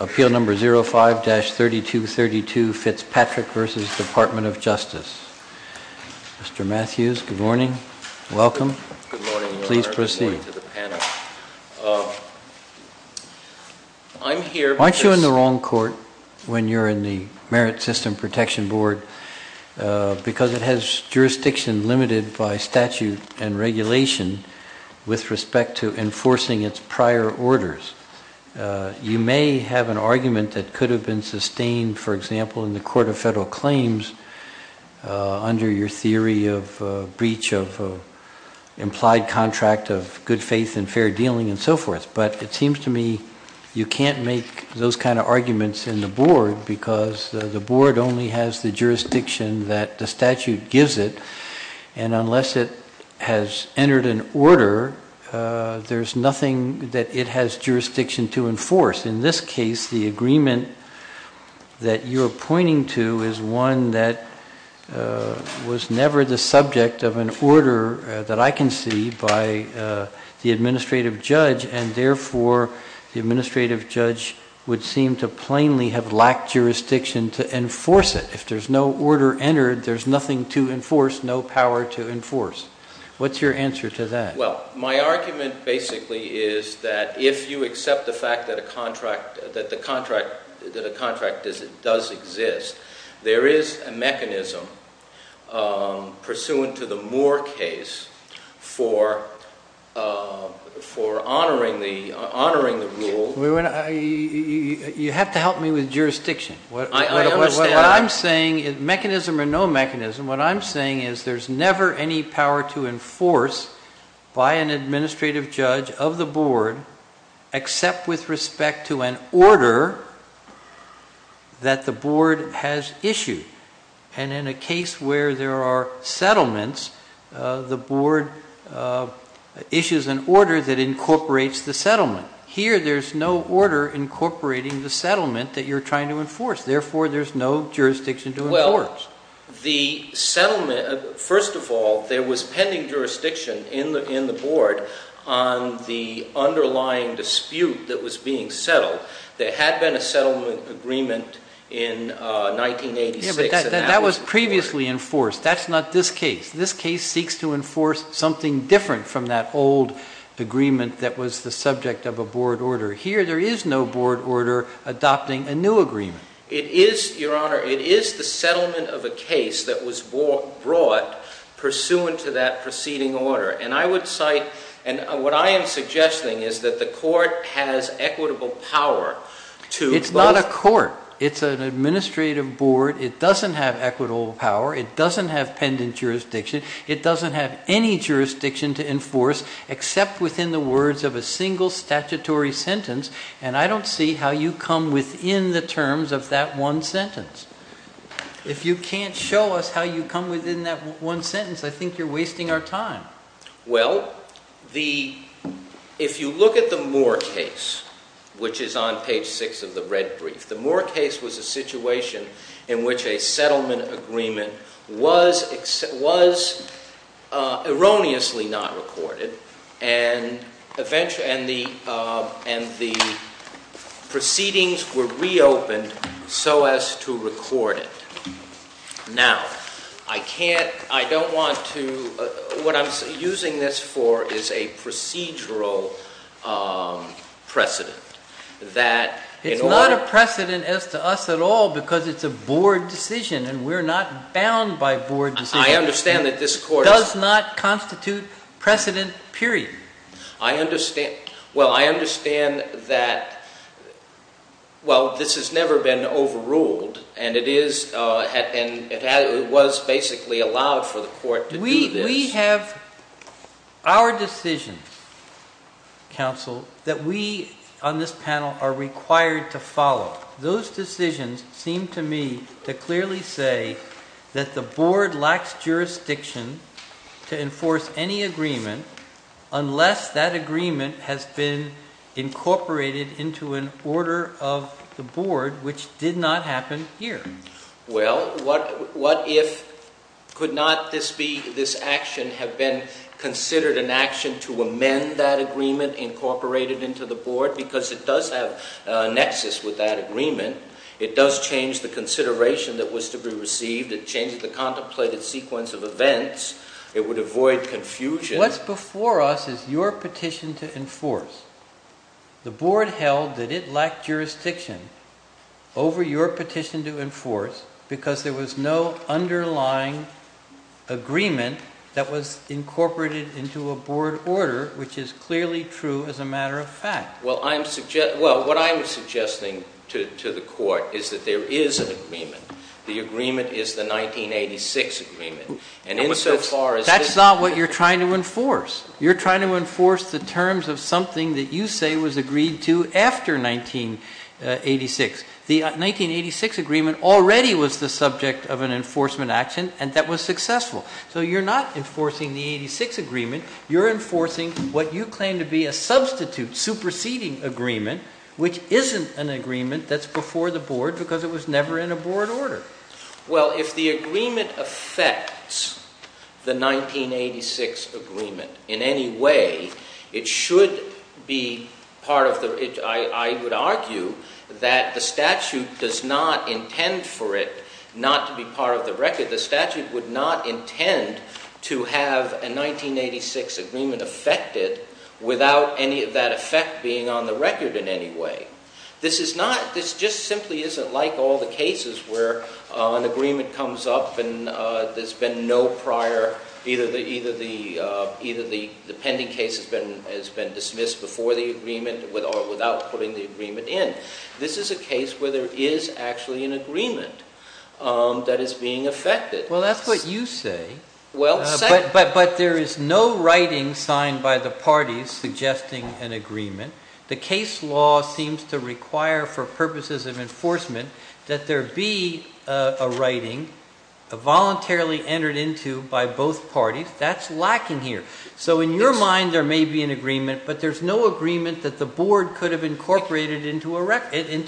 appeal number 05-3232 Fitzpatrick v. Department of Justice. Mr. Matthews, good morning. Welcome. Good morning, Your Honor, and good morning to the panel. I'm here because... Aren't you in the wrong court when you're in the Merit System Protection Board because it has jurisdiction limited by statute and regulation with respect to enforcing its prior orders? You may have an argument that could have been sustained, for example, in the Court of Federal Claims under your theory of breach of implied contract of good faith and fair dealing and so forth. But it seems to me you can't make those kind of arguments in the board because the board only has the jurisdiction that the statute gives it. And unless it has entered an order, there's nothing that it has jurisdiction to enforce. In this case, the agreement that you're pointing to is one that was never the subject of an order that I can see by the administrative judge, and therefore the administrative judge would seem to plainly have lacked jurisdiction to enforce it. If there's no order entered, there's nothing to enforce, no power to enforce. What's your answer to that? Well, my argument basically is that if you accept the fact that a contract does exist, there is a mechanism pursuant to the Moore case for honoring the rule. You have to help me with jurisdiction. I understand. Mechanism or no mechanism, what I'm saying is there's never any power to enforce by an administrative judge of the board except with respect to an order that the board has issued. And in a case where there are settlements, the board issues an order that incorporates the settlement. Here there's no order incorporating the settlement that you're trying to enforce, therefore there's no jurisdiction to enforce. Well, the settlement, first of all, there was pending jurisdiction in the board on the underlying dispute that was being settled. There had been a settlement agreement in 1986. Yeah, but that was previously enforced. That's not this case. This case seeks to enforce something different from that old agreement that was the subject of a board order. Here there is no board order adopting a new agreement. It is, Your Honor, it is the settlement of a case that was brought pursuant to that preceding order. And I would cite, and what I am suggesting is that the court has equitable power to both... It doesn't have any jurisdiction to enforce except within the words of a single statutory sentence. And I don't see how you come within the terms of that one sentence. If you can't show us how you come within that one sentence, I think you're wasting our time. Well, if you look at the Moore case, which is on page 6 of the red brief, the Moore case was a situation in which a settlement agreement was erroneously not recorded, and the proceedings were reopened so as to record it. Now, I can't, I don't want to, what I'm using this for is a procedural precedent that... It's not a precedent as to us at all because it's a board decision and we're not bound by board decisions. I understand that this court is... Well, I understand that, well, this has never been overruled and it was basically allowed for the court to do this. We have our decisions, counsel, that we on this panel are required to follow. Those decisions seem to me to clearly say that the board lacks jurisdiction to enforce any agreement unless that agreement has been incorporated into an order of the board, which did not happen here. Well, what if, could not this be, this action have been considered an action to amend that agreement incorporated into the board because it does have a nexus with that agreement. It does change the consideration that was to be received. It changes the contemplated sequence of events. It would avoid confusion. What's before us is your petition to enforce. The board held that it lacked jurisdiction over your petition to enforce because there was no underlying agreement that was incorporated into a board order, which is clearly true as a matter of fact. Well, what I'm suggesting to the court is that there is an agreement. The agreement is the 1986 agreement. That's not what you're trying to enforce. You're trying to enforce the terms of something that you say was agreed to after 1986. The 1986 agreement already was the subject of an enforcement action, and that was successful. So you're not enforcing the 86 agreement. You're enforcing what you claim to be a substitute, superseding agreement, which isn't an agreement that's before the board because it was never in a board order. Well, if the agreement affects the 1986 agreement in any way, it should be part of the, I would argue that the statute does not intend for it not to be part of the record. The statute would not intend to have a 1986 agreement affected without any of that effect being on the record in any way. This just simply isn't like all the cases where an agreement comes up and there's been no prior, either the pending case has been dismissed before the agreement or without putting the agreement in. This is a case where there is actually an agreement that is being affected. Well, that's what you say. But there is no writing signed by the parties suggesting an agreement. The case law seems to require for purposes of enforcement that there be a writing voluntarily entered into by both parties. That's lacking here. So in your mind, there may be an agreement, but there's no agreement that the board could have incorporated into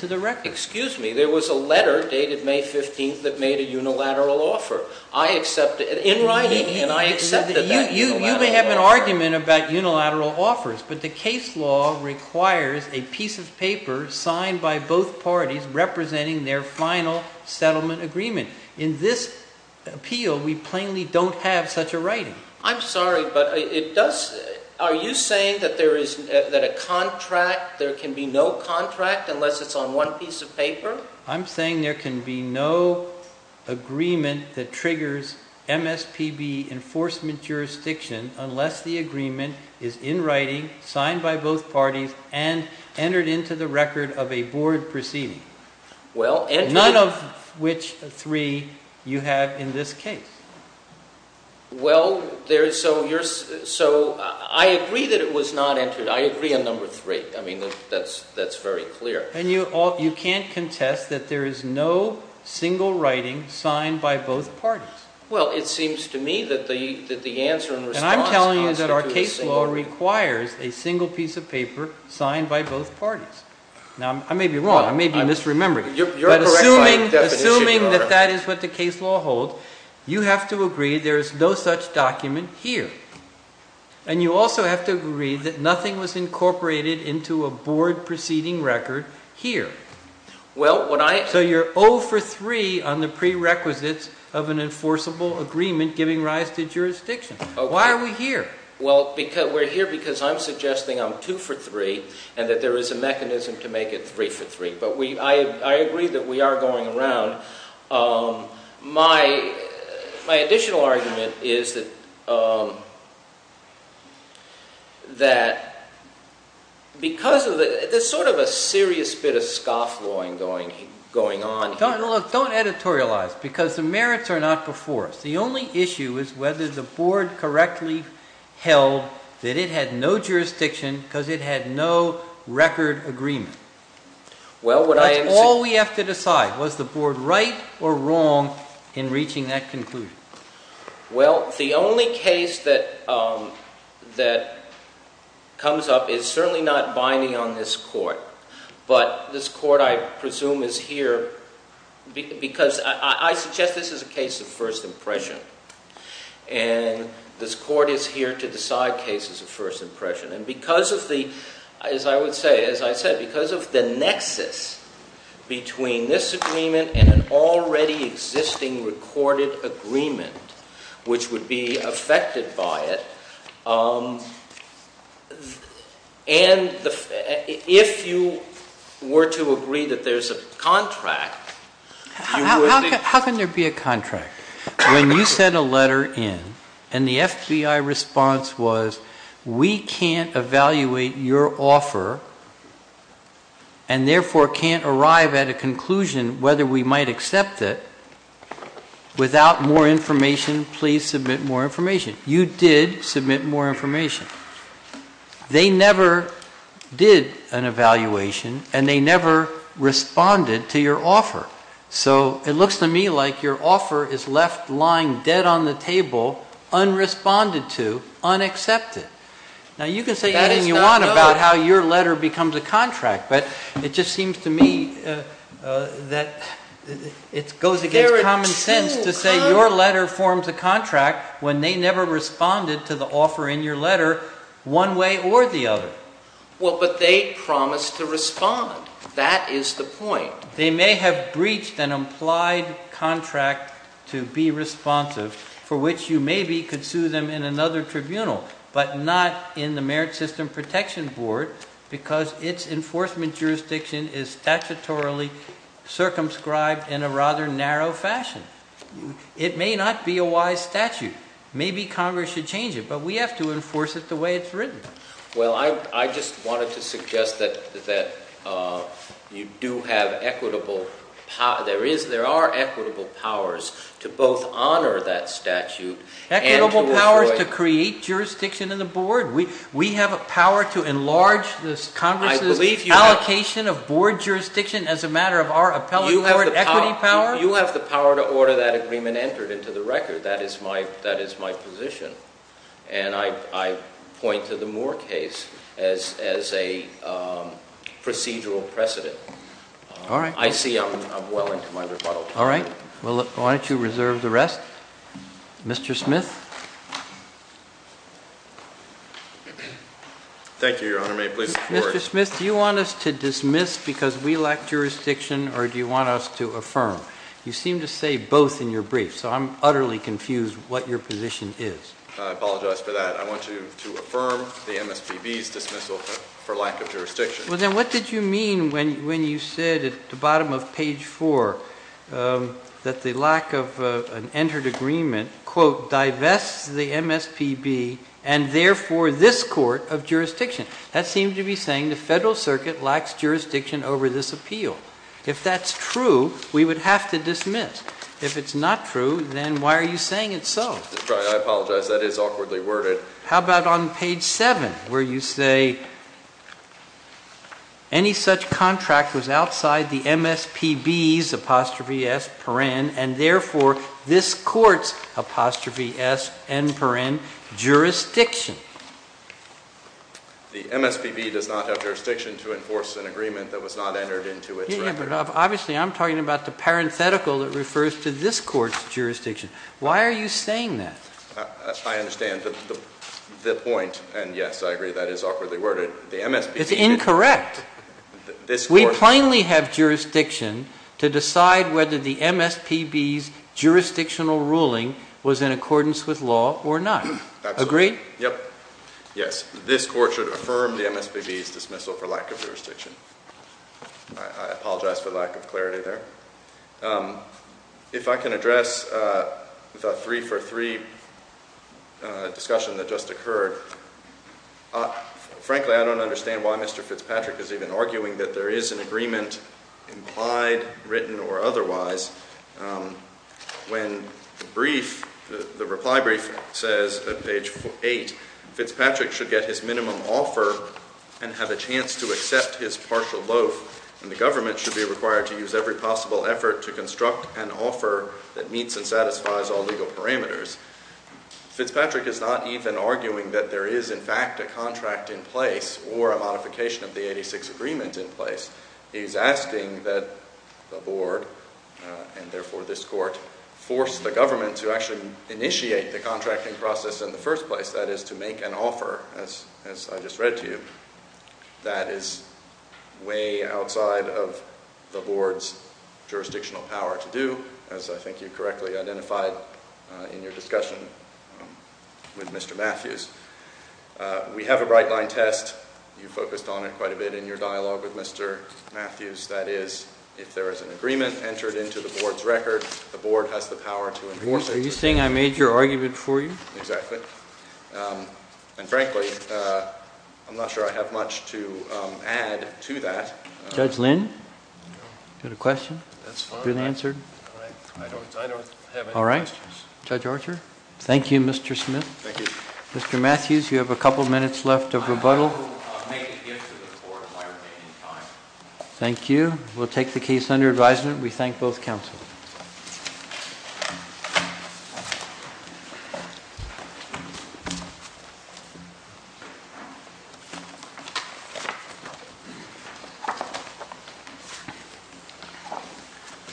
the record. Excuse me. There was a letter dated May 15th that made a unilateral offer. I accepted it in writing, and I accepted that unilateral offer. You may have an argument about unilateral offers. But the case law requires a piece of paper signed by both parties representing their final settlement agreement. In this appeal, we plainly don't have such a writing. I'm sorry, but are you saying that there can be no contract unless it's on one piece of paper? I'm saying there can be no agreement that triggers MSPB enforcement jurisdiction unless the agreement is in writing, signed by both parties, and entered into the record of a board proceeding. None of which three you have in this case. Well, so I agree that it was not entered. I agree on number three. I mean, that's very clear. And you can't contest that there is no single writing signed by both parties. Well, it seems to me that the answer and response constitute a single writing. And I'm telling you that our case law requires a single piece of paper signed by both parties. Now, I may be wrong. I may be misremembering. You're correct by definition. But assuming that that is what the case law holds, you have to agree there is no such document here. And you also have to agree that nothing was incorporated into a board proceeding record here. So you're 0 for 3 on the prerequisites of an enforceable agreement giving rise to jurisdiction. Why are we here? Well, we're here because I'm suggesting I'm 2 for 3 and that there is a mechanism to make it 3 for 3. But I agree that we are going around. My additional argument is that there's sort of a serious bit of scofflawing going on here. Don't editorialize because the merits are not before us. The only issue is whether the board correctly held that it had no jurisdiction because it had no record agreement. That's all we have to decide. Was the board right or wrong in reaching that conclusion? Well, the only case that comes up is certainly not binding on this court. But this court, I presume, is here because I suggest this is a case of first impression. And this court is here to decide cases of first impression. And because of the, as I would say, as I said, because of the nexus between this agreement and an already existing recorded agreement, which would be affected by it, and if you were to agree that there's a contract... How can there be a contract? When you sent a letter in and the FBI response was, we can't evaluate your offer and therefore can't arrive at a conclusion whether we might accept it without more information, please submit more information. You did submit more information. They never did an evaluation and they never responded to your offer. So it looks to me like your offer is left lying dead on the table, unresponded to, unaccepted. Now you can say anything you want about how your letter becomes a contract, but it just seems to me that it goes against common sense to say your letter forms a contract when they never responded to the offer in your letter one way or the other. Well, but they promised to respond. That is the point. They may have breached an implied contract to be responsive for which you maybe could sue them in another tribunal, but not in the Merit System Protection Board because its enforcement jurisdiction is statutorily circumscribed in a rather narrow fashion. It may not be a wise statute. Maybe Congress should change it, but we have to enforce it the way it's written. Well, I just wanted to suggest that you do have equitable powers. There are equitable powers to both honor that statute and to destroy it. Equitable powers to create jurisdiction in the board? We have a power to enlarge Congress's allocation of board jurisdiction as a matter of our appellate board equity power? You have the power to order that agreement entered into the record. That is my position. And I point to the Moore case as a procedural precedent. All right. I see I'm well into my rebuttal. All right. Why don't you reserve the rest? Mr. Smith? Thank you, Your Honor. May it please the Court? Mr. Smith, do you want us to dismiss because we lack jurisdiction or do you want us to affirm? You seem to say both in your brief, so I'm utterly confused what your position is. I apologize for that. I want to affirm the MSPB's dismissal for lack of jurisdiction. Well, then what did you mean when you said at the bottom of page 4 that the lack of an entered agreement, quote, divests the MSPB and therefore this court of jurisdiction? That seemed to be saying the Federal Circuit lacks jurisdiction over this appeal. If that's true, we would have to dismiss. If it's not true, then why are you saying it's so? I apologize. That is awkwardly worded. How about on page 7 where you say any such contract was outside the MSPB's, apostrophe S, paren, and therefore this court's, apostrophe S, n paren, jurisdiction? The MSPB does not have jurisdiction to enforce an agreement that was not entered into its record. Yeah, but obviously I'm talking about the parenthetical that refers to this court's jurisdiction. Why are you saying that? I understand the point, and yes, I agree that is awkwardly worded. It's incorrect. We plainly have jurisdiction to decide whether the MSPB's jurisdictional ruling was in accordance with law or not. Agreed? Yes. This court should affirm the MSPB's dismissal for lack of jurisdiction. I apologize for the lack of clarity there. If I can address the three-for-three discussion that just occurred. Frankly, I don't understand why Mr. Fitzpatrick is even arguing that there is an agreement implied, written, or otherwise, when the brief, the reply brief says at page eight, Fitzpatrick should get his minimum offer and have a chance to accept his partial loaf, and the government should be required to use every possible effort to construct an offer that meets and satisfies all legal parameters. Fitzpatrick is not even arguing that there is, in fact, a contract in place or a modification of the 86 agreement in place. He is asking that the board, and therefore this court, force the government to actually initiate the contracting process in the first place, that is, to make an offer, as I just read to you, that is way outside of the board's jurisdictional power to do, as I think you correctly identified in your discussion with Mr. Matthews. We have a right-line test. You focused on it quite a bit in your dialogue with Mr. Matthews. That is, if there is an agreement entered into the board's record, the board has the power to enforce it. Are you saying I made your argument for you? Exactly. And frankly, I'm not sure I have much to add to that. Judge Lynn, you have a question? That's fine. Good answer. I don't have any questions. All right. Judge Archer? Thank you, Mr. Smith. Thank you. Mr. Matthews, you have a couple minutes left of rebuttal. I will make a gift to the board in my remaining time. Thank you. We'll take the case under advisement. We thank both counsel.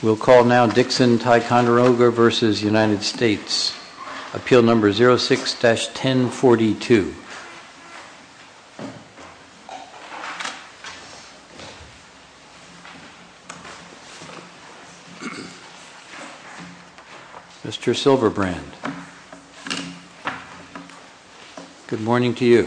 We'll call now Dixon-Ticonderoga v. United States. Appeal number 06-1042. Mr. Silverbrand. Good morning to you.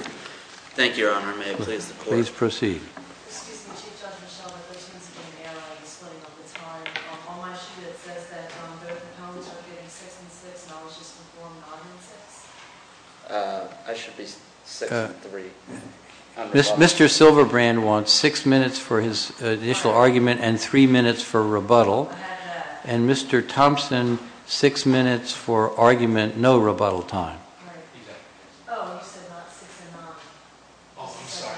Thank you, Your Honor. May I please support? Please proceed. Excuse me, Chief Judge Michel, but those things have been in the air on display all the time. On my sheet it says that both opponents are getting six and six and I was just informed I'm getting six. I should be six and three. Mr. Silverbrand wants six minutes for his initial argument and three minutes for rebuttal. And Mr. Thompson, six minutes for argument, no rebuttal time. Right. Oh, you said not six and not. Oh, I'm sorry.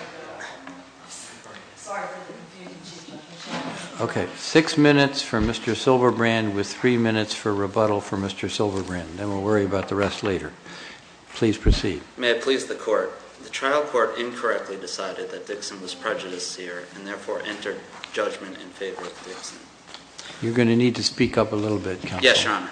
Sorry for the confusion, Chief Judge Michel. Okay, six minutes for Mr. Silverbrand with three minutes for rebuttal for Mr. Silverbrand. Then we'll worry about the rest later. Please proceed. May I please the court? The trial court incorrectly decided that Dixon was prejudicier and therefore entered judgment in favor of Dixon. You're going to need to speak up a little bit, counsel. Yes, Your Honor.